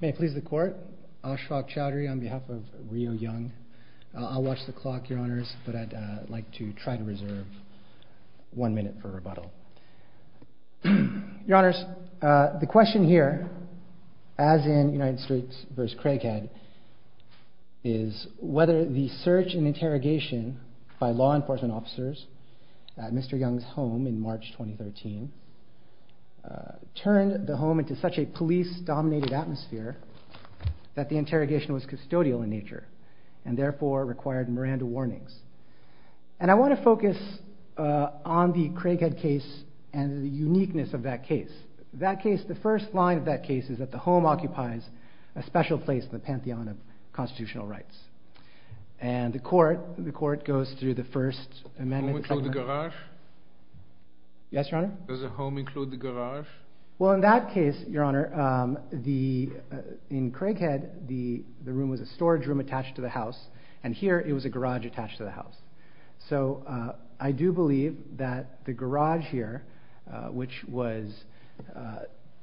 May it please the Court, Ashfaq Chowdhury on behalf of Rio Young. I'll watch the clock, Your Honours, but I'd like to try to reserve one minute for rebuttal. Your Honours, the question here, as in United States v. Craighead, is whether the search and interrogation by such a police-dominated atmosphere that the interrogation was custodial in nature and therefore required Miranda warnings. And I want to focus on the Craighead case and the uniqueness of that case. That case, the first line of that case is that the home occupies a special place in the pantheon of constitutional rights. And the Court, the Court goes through the first amendment. Does the home include the garage? Yes, Your Honour. Does the home occupy the garage? No, Your Honour. In Craighead, the room was a storage room attached to the house, and here it was a garage attached to the house. So I do believe that the garage here, which was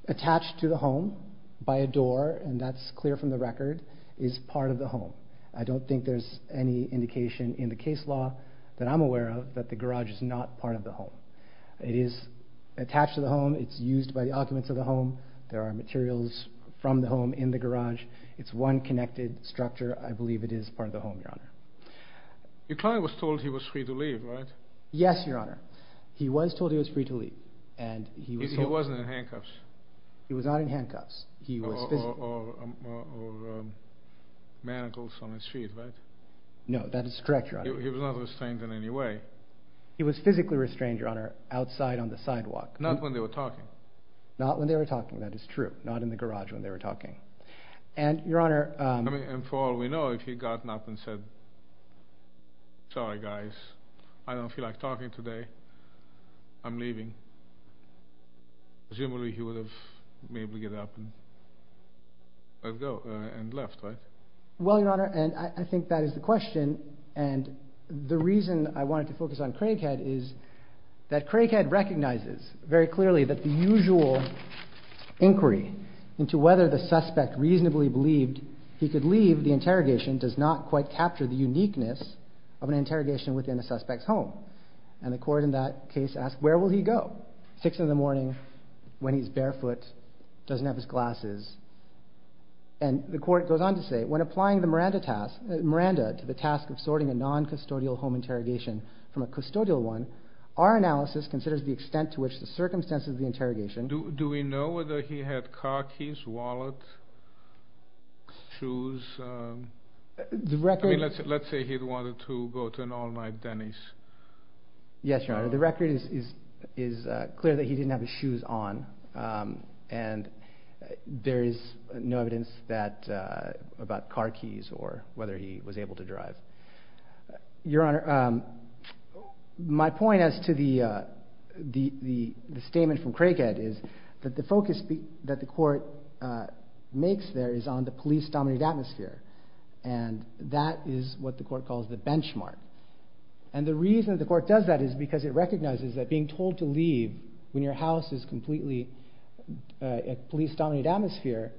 attached to the home by a door, and that's clear from the record, is part of the home. I don't think there's any indication in the case law that I'm aware of that the garage is not part of the home. It is attached to the home, it's used by the occupants of the home. There are materials from the home in the garage. It's one connected structure. I believe it is part of the home, Your Honour. Your client was told he was free to leave, right? Yes, Your Honour. He was told he was free to leave. He wasn't in handcuffs? He was not in handcuffs. Or manacles on his feet, right? No, that is correct, Your Honour. He was not restrained in any way? He was physically restrained, Your Honour, outside on the sidewalk. Not when they were talking? Not when they were talking, that is true. Not in the garage when they were talking. And, Your Honour... I mean, and for all we know, if he'd gotten up and said, sorry guys, I don't feel like talking today, I'm leaving, presumably he would have maybe get up and let go, and left, right? Well, Your Honour, and I think that is the question, and the reason I wanted to focus on Craighead is that Craighead recognizes very clearly that the usual inquiry into whether the suspect reasonably believed he could leave the interrogation does not quite capture the uniqueness of an interrogation within a suspect's home. And the court in that case asked, where will he go? Six in the morning, when he's barefoot, doesn't have his glasses, and the court goes on to say, when applying the Miranda to the task of sorting a non-custodial home interrogation from a custodial one, our analysis considers the extent to which the circumstances of the interrogation... Do we know whether he had car keys, wallet, shoes? The record... I mean, let's say he wanted to go to an all-night Denny's. Yes, Your Honour, the record is clear that he didn't have his shoes on, and there is no evidence about car keys or whether he was able to drive. Your Honour, my point as to the statement from Craighead is that the focus that the court makes there is on the police-dominated atmosphere, and that is what the court calls the benchmark. And the reason the court does that is because it recognizes that being told to leave when your house is completely in a police-dominated atmosphere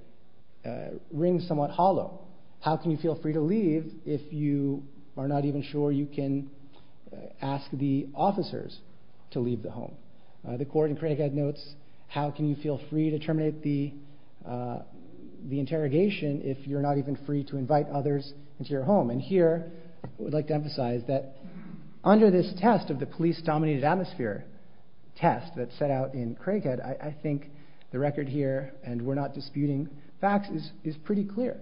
rings somewhat hollow. How can you feel free to leave if you are not even sure you can ask the officers to leave the home? The court in Craighead notes, how can you feel free to terminate the interrogation if you're not even free to invite others into your home? And here, I would like to emphasize that under this test of the police-dominated atmosphere test that's set out in Craighead, I think the record here, and we're not disputing facts, is pretty clear.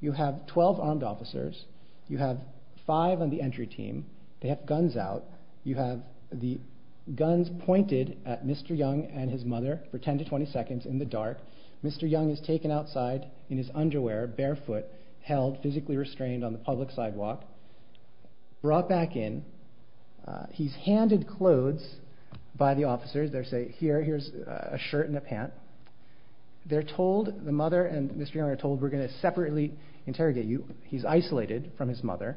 You have 12 armed officers. You have five on the entry team. They have guns out. You have the guns pointed at Mr. Young and his mother for 10 to 20 seconds in the dark. Mr. Young is taken outside in his underwear, barefoot, held physically restrained on the public sidewalk, brought back in. He's handed clothes by the officers. They say, here's a shirt and a pant. They're told, the mother and Mr. Young are told, we're going to separately interrogate you. He's isolated from his mother.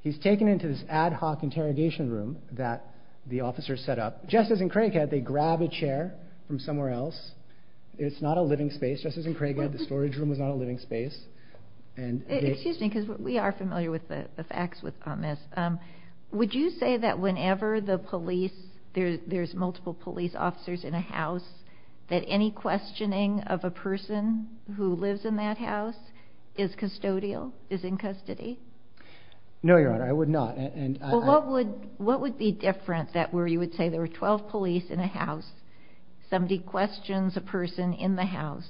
He's taken into this ad hoc interrogation room that the officers set up. Just as in Craighead, they grab a chair from somewhere else. It's not a living space. Just as in Craighead, the storage room was not a living space. Excuse me, because we are familiar with the facts on this. Would you say that whenever the police, there's multiple police officers in a house, that any questioning of a person who lives in that house is custodial, is in custody? No, Your Honor. I would not. What would be different that where you would say there were 12 police in a house, somebody questions a person in the house,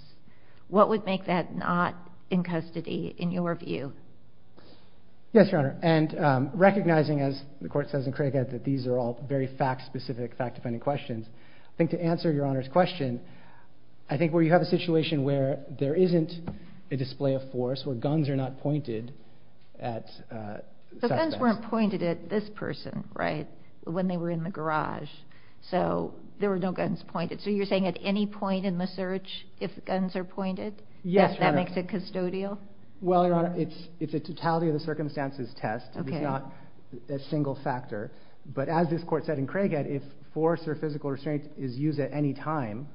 what would make that not in custody in your view? Yes, Your Honor. And recognizing, as the court says in Craighead, that these are all very fact-specific, fact-dependent questions, I think to answer Your Honor's question, I think where you have a situation where there isn't a display of force, where guns are not pointed at suspects. The guns weren't pointed at this person, right, when they were in the garage. So there were no guns pointed. So you're saying at any point in the search, if guns are pointed, that makes it custodial? Well, Your Honor, it's a totality of the circumstances test. It's not a single factor. But as this court said in Craighead, if force or physical restraint is used at any time,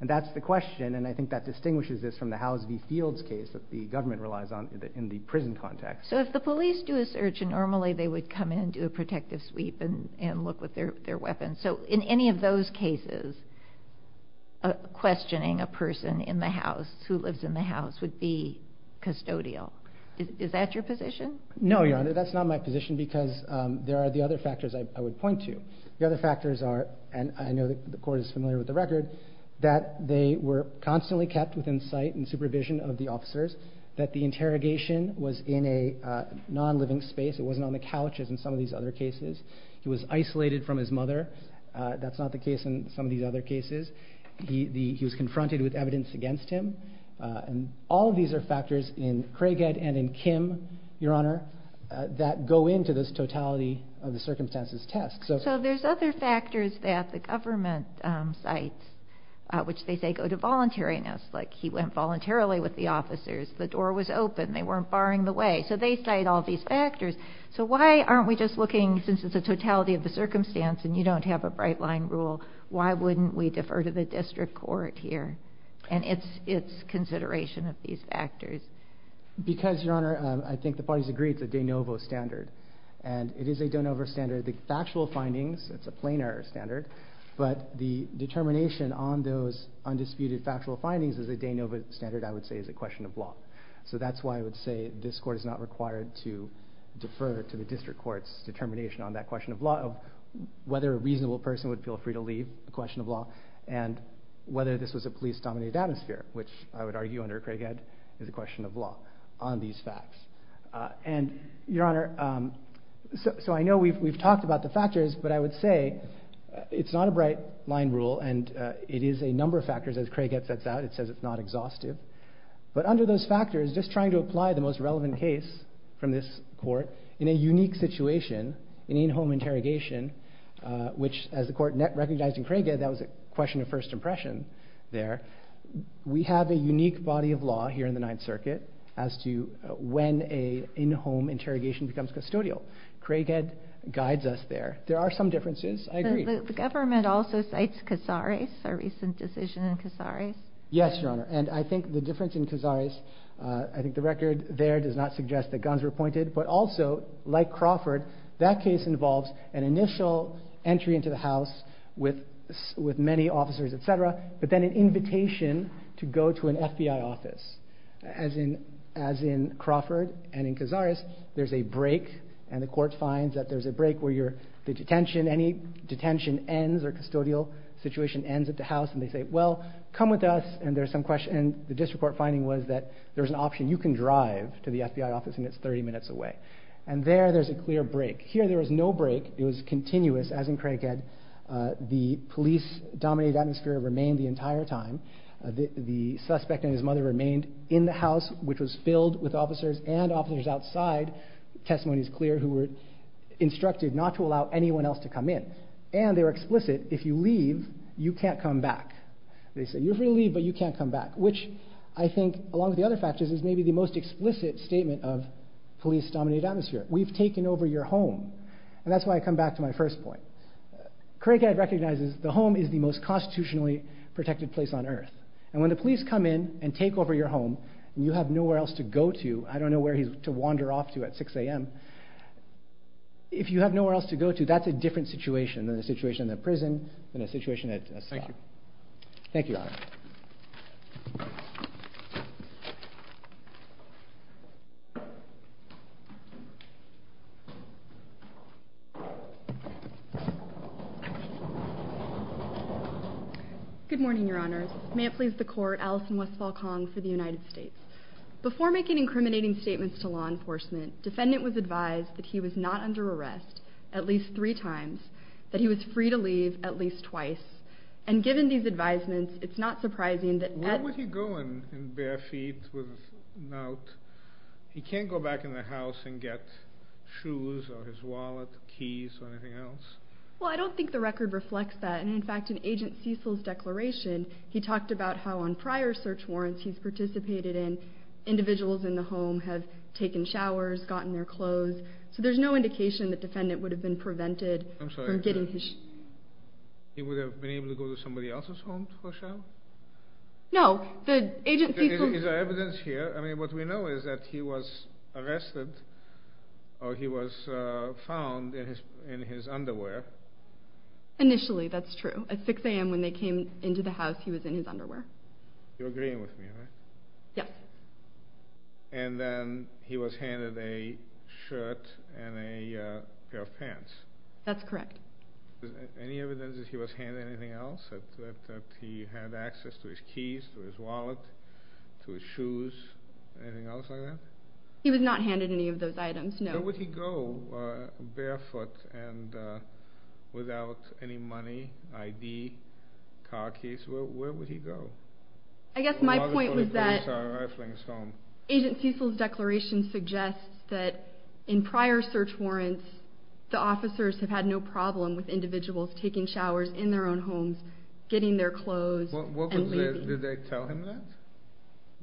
and that's the question, and I think that distinguishes this from the Howes v. Fields case that the government relies on in the prison context. So if the police do a search, and normally they would come in and do a protective sweep and look with their weapons. So in any of those cases, questioning a person in the house, who lives in the house, would be custodial. Is that your position? No, Your Honor, that's not my position because there are the other factors I would point to. The other factors are, and I know the court is familiar with the record, that they were constantly kept within sight and supervision of the officers, that the interrogation was in a non-living space. It wasn't on the couches in some of these other cases. He was isolated from his mother. That's not the case in some of these other cases. He was confronted with evidence against him. And all of these are factors in Craighead and in Kim, Your Honor, that go into this totality of the circumstances test. So there's other factors that the government cites, which they say go to voluntariness, like he went voluntarily with the officers, the door was open, they weren't barring the way. So they cite all these factors. So why aren't we just looking, since it's a totality of the circumstance and you don't have a bright line rule, why wouldn't we defer to the district court here? And it's consideration of these factors. Because Your Honor, I think the parties agree it's a de novo standard. And it is a de novo standard. The factual findings, it's a plainer standard, but the determination on those undisputed factual findings is a de novo standard, I would say, is a question of law. So that's why I would say this court is not required to defer to the district court's determination on that question of law, of whether a reasonable person would feel free to leave, a question of law, and whether this was a police-dominated atmosphere, which I would argue under Craighead is a question of law on these facts. And Your Honor, so I know we've talked about the factors, but I would say it's not a bright line rule. And it is a number of factors, as Craighead sets out. It says it's not exhaustive. But under those factors, just trying to apply the most relevant case from this court in a unique situation, an in-home interrogation, which as the court recognized in Craighead that was a question of first impression there, we have a unique body of law here in the Ninth Circuit as to when an in-home interrogation becomes custodial. Craighead guides us there. There are some differences, I agree. But the government also cites Casares, a recent decision in Casares. Yes, Your Honor. And I think the difference in Casares, I think the record there does not suggest that guns were pointed. But also, like Crawford, that case involves an initial entry into the house with many officers, et cetera, but then an invitation to go to an FBI office. As in Crawford and in Casares, there's a break and the court finds that there's a break where the detention, any detention ends or custodial situation ends at the house and they say, well, come with us and there's some question. And the district court finding was that there's an option. You can drive to the FBI office and it's 30 minutes away. And there, there's a clear break. Here, there was no break. It was continuous, as in Craighead. The police-dominated atmosphere remained the entire time. The suspect and his mother remained in the house, which was filled with officers and officers outside, testimony is clear, who were instructed not to allow anyone else to come in. And they were explicit, if you can't come back, they say you're free to leave, but you can't come back, which I think along with the other factors is maybe the most explicit statement of police-dominated atmosphere. We've taken over your home. And that's why I come back to my first point. Craighead recognizes the home is the most constitutionally protected place on earth. And when the police come in and take over your home and you have nowhere else to go to, I don't know where he's to wander off to at 6 a.m. If you have nowhere else to go to, that's a different situation than a situation in a prison, than a situation at a cell. Thank you. Thank you, Your Honor. Good morning, Your Honors. May it please the Court, Alison Westphal-Kong for the United States. Before making incriminating statements to law enforcement, defendant was advised that he was not under arrest at least three times, that he was free to leave at least twice. And given these advisements, it's not surprising that... Where would he go in bare feet with a note? He can't go back in the house and get shoes or his wallet, keys, or anything else? Well, I don't think the record reflects that. And in fact, in Agent Cecil's declaration, he talked about how on prior search warrants he's participated in, individuals in the home have taken showers, gotten their clothes. So there's no indication that defendant would have been prevented from getting his... I'm sorry, he would have been able to go to somebody else's home for a shower? No, the Agent Cecil... Is there evidence here? I mean, what we know is that he was arrested or he was found in his underwear. Initially, that's true. At 6 a.m. when they came into the house, he was in his underwear. You're agreeing with me, right? Yes. And then he was handed a shirt and a pair of pants? That's correct. Is there any evidence that he was handed anything else? That he had access to his keys, to his wallet, to his shoes, anything else like that? He was not handed any of those items, no. Where would he go barefoot and without any money, ID, car keys? Where would he go? I guess my point was that Agent Cecil's declaration suggests that in prior search warrants, the officers have had no problem with individuals taking showers in their own homes, getting their clothes and leaving. Did they tell him that?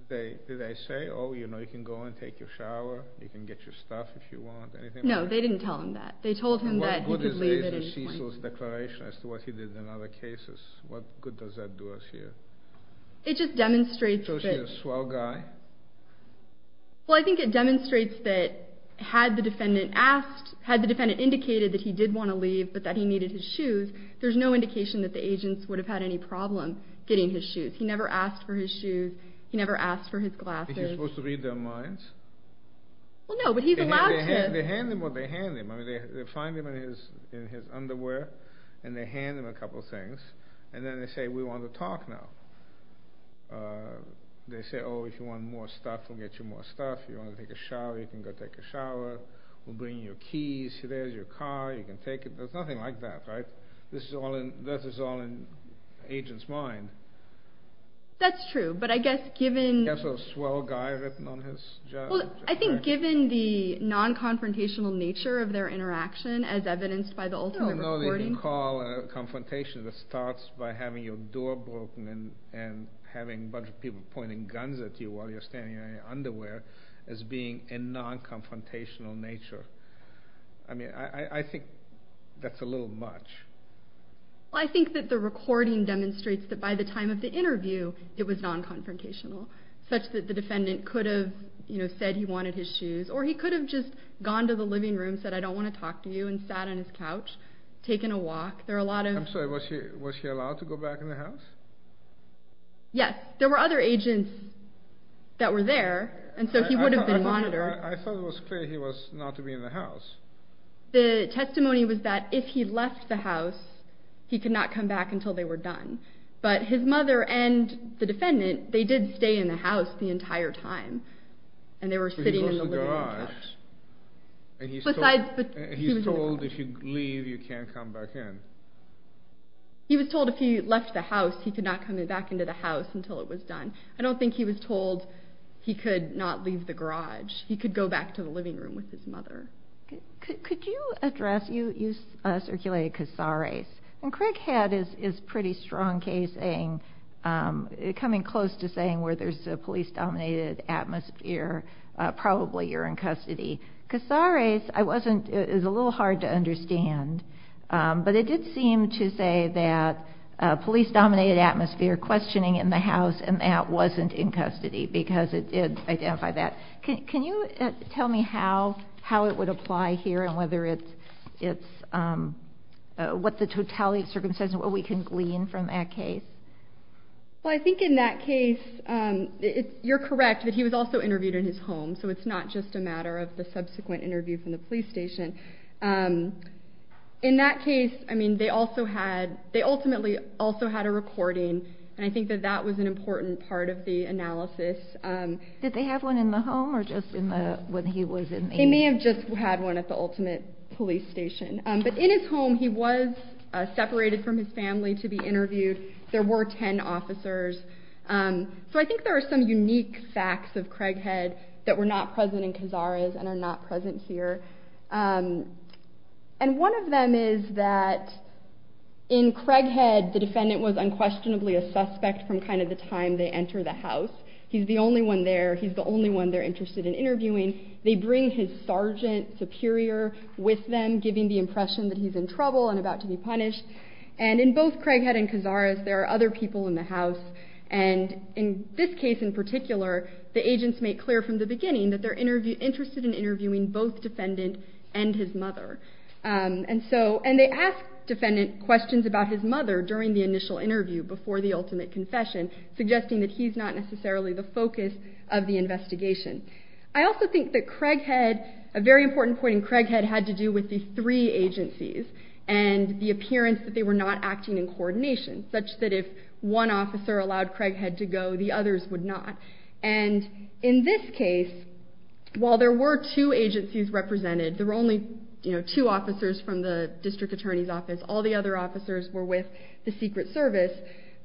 Did they say, oh, you know, you can go and take your shower, you can get your stuff if you want, anything like that? No, they didn't tell him that. They told him that he could leave at any point. What's Agent Cecil's declaration as to what he did in other cases? What good does that do us here? It just demonstrates that... So he's a swell guy? Well, I think it demonstrates that had the defendant asked, had the defendant indicated that he did want to leave but that he needed his shoes, there's no indication that the agents would have had any problem getting his shoes. He never asked for his shoes, he never asked for his glasses. Is he supposed to read their minds? Well, no, but he's allowed to. They hand him what they hand him. They find him in his underwear and they hand him a couple things and then they say, we want to talk now. They say, oh, if you want more stuff, we'll get you more stuff. If you want to take a shower, you can go take a shower. We'll bring you keys. There's your car, you can take it. There's nothing like that, right? This is all in the agent's mind. That's true, but I guess given... He's a swell guy, written on his jacket. Well, I think given the non-confrontational nature of their interaction as evidenced by the ultimate recording... No, no, they don't call confrontation that starts by having your door broken and having a bunch of people pointing guns at you while you're standing in your underwear as being a non-confrontational nature. I mean, I think that's a little much. Well, I think that the recording demonstrates that by the time of the interview, it was such that the defendant could have said he wanted his shoes, or he could have just gone to the living room, said, I don't want to talk to you, and sat on his couch, taken a walk. There are a lot of... I'm sorry, was he allowed to go back in the house? Yes. There were other agents that were there, and so he would have been monitored. I thought it was clear he was not to be in the house. The testimony was that if he left the house, he could not come back until they were done. But his mother and the defendant, they did stay in the house the entire time, and they were sitting in the living room couch. He was told if you leave, you can't come back in. He was told if he left the house, he could not come back into the house until it was done. I don't think he was told he could not leave the garage. He could go back to the living room with his mother. Could you address, you circulated Casares, and Craig Head is pretty strong case, coming close to saying where there's a police-dominated atmosphere, probably you're in custody. Casares is a little hard to understand, but it did seem to say that police-dominated atmosphere, questioning in the house, and Matt wasn't in custody, because it did identify that. Can you tell me how it would apply here and whether it's, what the totality of circumstances, what we can glean from that case? Well, I think in that case, you're correct that he was also interviewed in his home, so it's not just a matter of the subsequent interview from the police station. In that case, I mean, they also had, they ultimately also had a recording, and I think that that was an important part of the analysis. Did they have one in the home or just in the, when he was in there? They may have just had one at the ultimate police station, but in his home, he was separated from his family to be interviewed. There were 10 officers, so I think there are some unique facts of Craig Head that were not present in Casares and are not present here, and one of them is that in Craig Head, the defendant was unquestionably a suspect from kind of the time they enter the house. He's the only one there. He's the only one they're interested in interviewing. They bring his sergeant superior with them, giving the impression that he's in trouble and about to be punished, and in both Craig Head and Casares, there are other people in the house, and in this case in particular, the agents make clear from the beginning that they're interested in interviewing both defendant and his mother, and so, and they ask defendant questions about his mother during the initial interview before the ultimate confession, suggesting that he's not necessarily the focus of the investigation. I also think that Craig Head, a very important point in Craig Head had to do with the three agencies and the appearance that they were not acting in coordination, such that if one officer allowed Craig Head to go, the others would not, and in this case, while there were two agencies represented, there were only, you know, two officers from the district attorney's officers were with the Secret Service,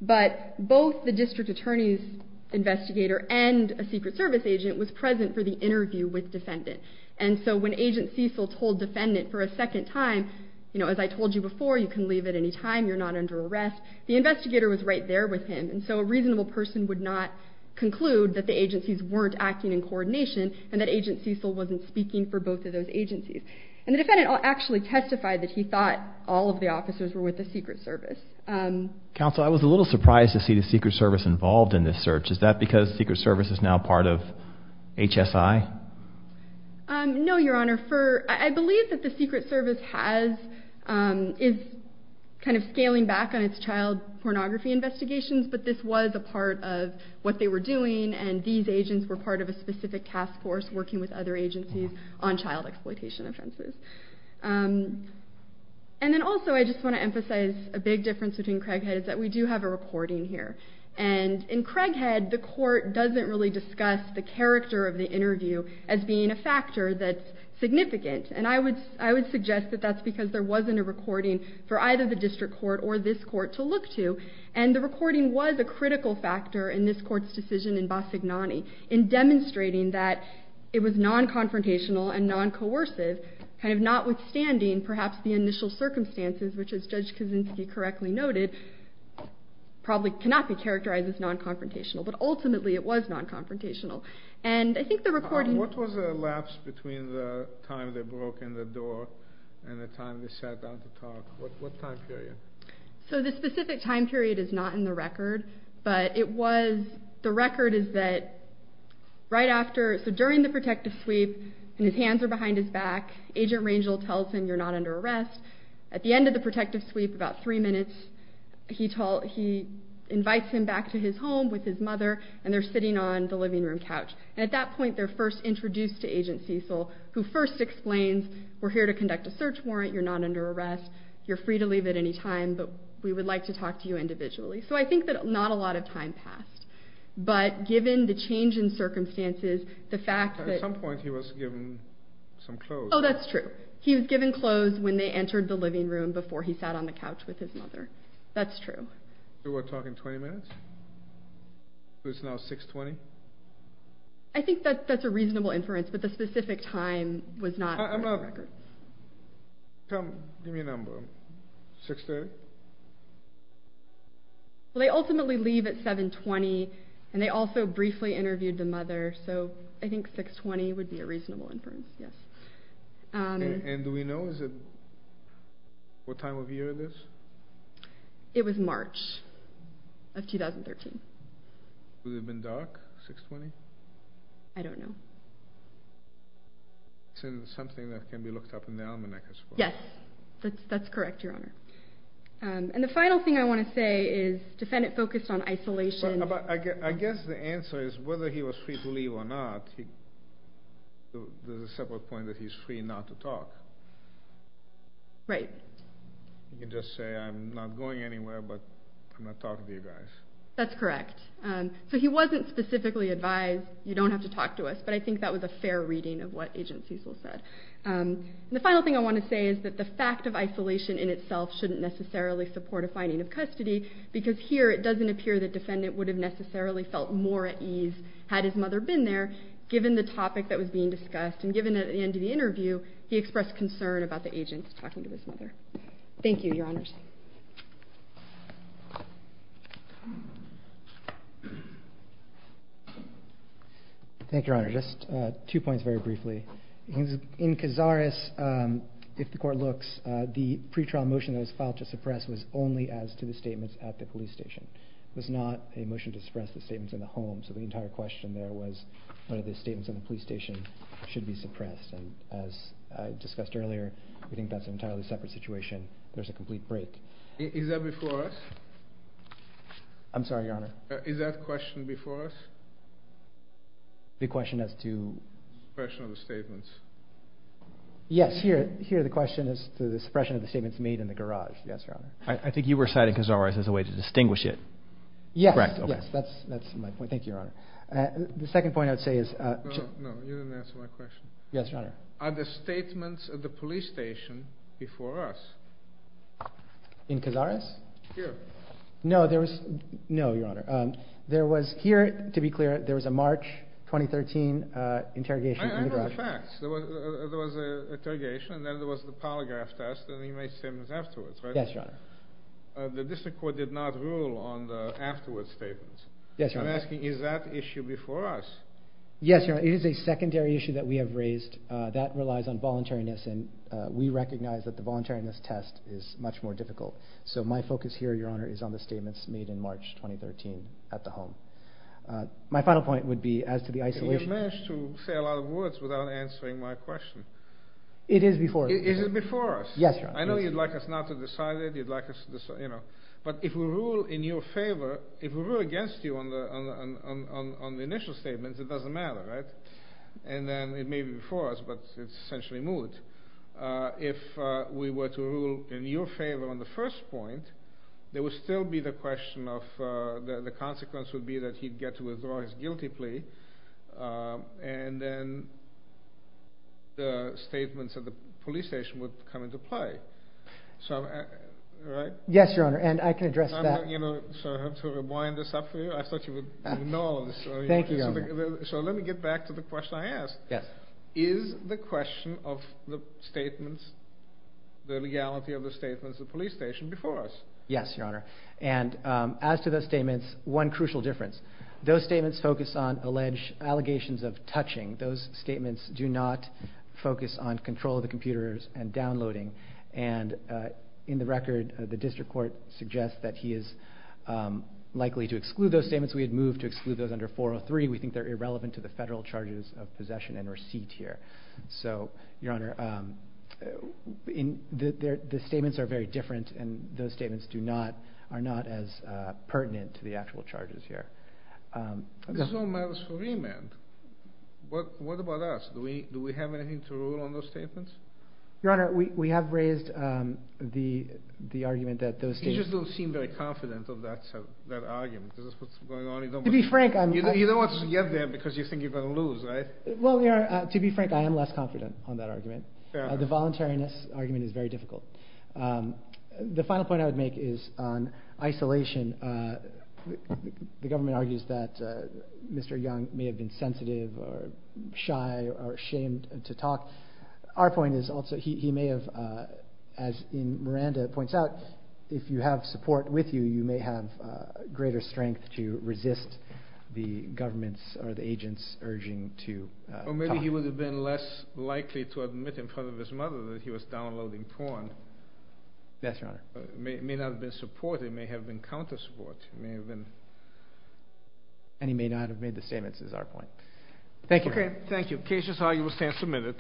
but both the district attorney's investigator and a Secret Service agent was present for the interview with defendant, and so when Agent Cecil told defendant for a second time, you know, as I told you before, you can leave at any time. You're not under arrest. The investigator was right there with him, and so a reasonable person would not conclude that the agencies weren't acting in coordination and that Agent Cecil wasn't speaking for both of those agencies, and the defendant actually testified that he thought all of the officers were with the Secret Service. Counsel, I was a little surprised to see the Secret Service involved in this search. Is that because the Secret Service is now part of HSI? No, Your Honor. I believe that the Secret Service has, is kind of scaling back on its child pornography investigations, but this was a part of what they were doing, and these agents were part of a specific task force working with other agencies on child exploitation offenses. And then also I just want to emphasize a big difference between Craighead is that we do have a recording here, and in Craighead, the court doesn't really discuss the character of the interview as being a factor that's significant, and I would, I would suggest that that's because there wasn't a recording for either the district court or this court to look to, and the recording was a critical factor in this court's decision in Bassignani in demonstrating that it was non-confrontational and non-coercive, kind of notwithstanding perhaps the initial circumstances, which as Judge Kaczynski correctly noted, probably cannot be characterized as non-confrontational, but ultimately it was non-confrontational. And I think the recording... What was the lapse between the time they broke in the door and the time they sat down to talk? What time period? So the specific time period is not in the record, but it was... The record is that right after... So during the protective sweep, and his hands are behind his back, Agent Rangel tells him you're not under arrest. At the end of the protective sweep, about three minutes, he invites him back to his home with his mother, and they're sitting on the living room couch. And at that point, they're first introduced to Agent Cecil, who first explains, we're here to conduct a search warrant. You're not under arrest. You're free to leave at any time, but we would like to talk to you individually. So I think that not a lot of time passed. But given the change in circumstances, the fact that... At some point, he was given some clothes. Oh, that's true. He was given clothes when they entered the living room before he sat on the couch with his mother. That's true. So we're talking 20 minutes? So it's now 6.20? I think that's a reasonable inference, but the specific time was not on the record. Come, give me a number. 6.30? Well, they ultimately leave at 7.20, and they also briefly interviewed the mother, so I think 6.20 would be a reasonable inference, yes. And do we know what time of year it is? It was March of 2013. Would it have been dark, 6.20? I don't know. Something that can be looked up in the almanac, I suppose. Yes, that's correct, Your Honor. And the final thing I want to say is, the defendant focused on isolation. I guess the answer is, whether he was free to leave or not, there's a separate point that he's free not to talk. Right. He can just say, I'm not going anywhere, but I'm not talking to you guys. That's correct. So he wasn't specifically advised, you don't have to talk to us, but I think that was a fair reading of what Agent Cecil said. And the final thing I want to say is that the fact of isolation in itself shouldn't necessarily support a finding of custody, because here it doesn't appear that the defendant would have necessarily felt more at ease had his mother been there, given the topic that was being discussed, and given that at the end of the interview, he expressed concern about the agent talking to his mother. Thank you, Your Honors. Thank you, Your Honor. Just two points very briefly. In Cazares, if the court looks, the pre-trial motion that was filed to suppress was only as to the statements at the police station. It was not a motion to suppress the statements in the home, so the entire question there was whether the statements at the police station should be suppressed. And as discussed earlier, we think that's an entirely separate situation. There's a complete break. Is that before us? I'm sorry, Your Honor. Is that question before us? The question as to... Suppression of the statements. Yes, here the question is to the suppression of the statements made in the garage. Yes, Your Honor. I think you were citing Cazares as a way to distinguish it. Yes. Correct. Yes, that's my point. Thank you, Your Honor. The second point I would say is... No, no, you didn't answer my question. Yes, Your Honor. Are the statements at the police station before us? In Cazares? Here. No, there was... No, Your Honor. There was... Here, to be clear, there was a March 2013 interrogation in the garage. I know the facts. There was an interrogation, and then there was the polygraph test, and he made statements afterwards, right? Yes, Your Honor. The district court did not rule on the afterwards statements. Yes, Your Honor. I'm asking, is that issue before us? Yes, Your Honor. It is a secondary issue that we have raised. That relies on voluntariness, and we recognize that the voluntariness test is much more difficult. So my focus here, Your Honor, is on the statements made in March 2013 at the home. My final point would be, as to the isolation... You managed to say a lot of words without answering my question. It is before us. Is it before us? Yes, Your Honor. I know you'd like us not to decide it. You'd like us to decide... But if we rule in your favor, if we rule against you on the initial statements, it doesn't matter, right? And then it may be before us, but it's essentially moved. If we were to rule in your favor on the first point, there would still be the question of... The consequence would be that he'd get to withdraw his guilty plea, and then the statements at the police station would come into play. So... Right? Yes, Your Honor. And I can address that... So I have to rewind this up for you? I thought you would know. Thank you, Your Honor. So let me get back to the question I asked. Yes. Is the question of the statements, the legality of the statements at the police station before us? Yes, Your Honor. And as to the statements, one crucial difference. Those statements focus on alleged allegations of touching. Those statements do not focus on control of the computers and downloading. And in the record, the district court suggests that he is likely to exclude those statements. We had moved to exclude those under 403. We think they're irrelevant to the federal charges of possession and receipt here. So, Your Honor, the statements are very different, and those statements are not as pertinent to the actual charges here. This all matters for me, man. What about us? Do we have anything to rule on those statements? Your Honor, we have raised the argument that those statements... You just don't seem very confident of that argument. Is this what's going on? To be frank, I'm... You don't want to get there because you think you're going to lose, right? Well, Your Honor, to be frank, I am less confident on that argument. The voluntariness argument is very difficult. The final point I would make is on isolation. The government argues that Mr. Young may have been sensitive or shy or ashamed to talk. Our point is also he may have, as Miranda points out, if you have support with you, you may have greater strength to resist the government's or the agent's urging to talk. Or maybe he would have been less likely to admit in front of his mother that he was downloading porn. Yes, Your Honor. It may not have been support. It may have been counter support. It may have been... And he may not have made the statements is our point. Thank you. Okay, thank you. Case is argued. We'll stand for a minute.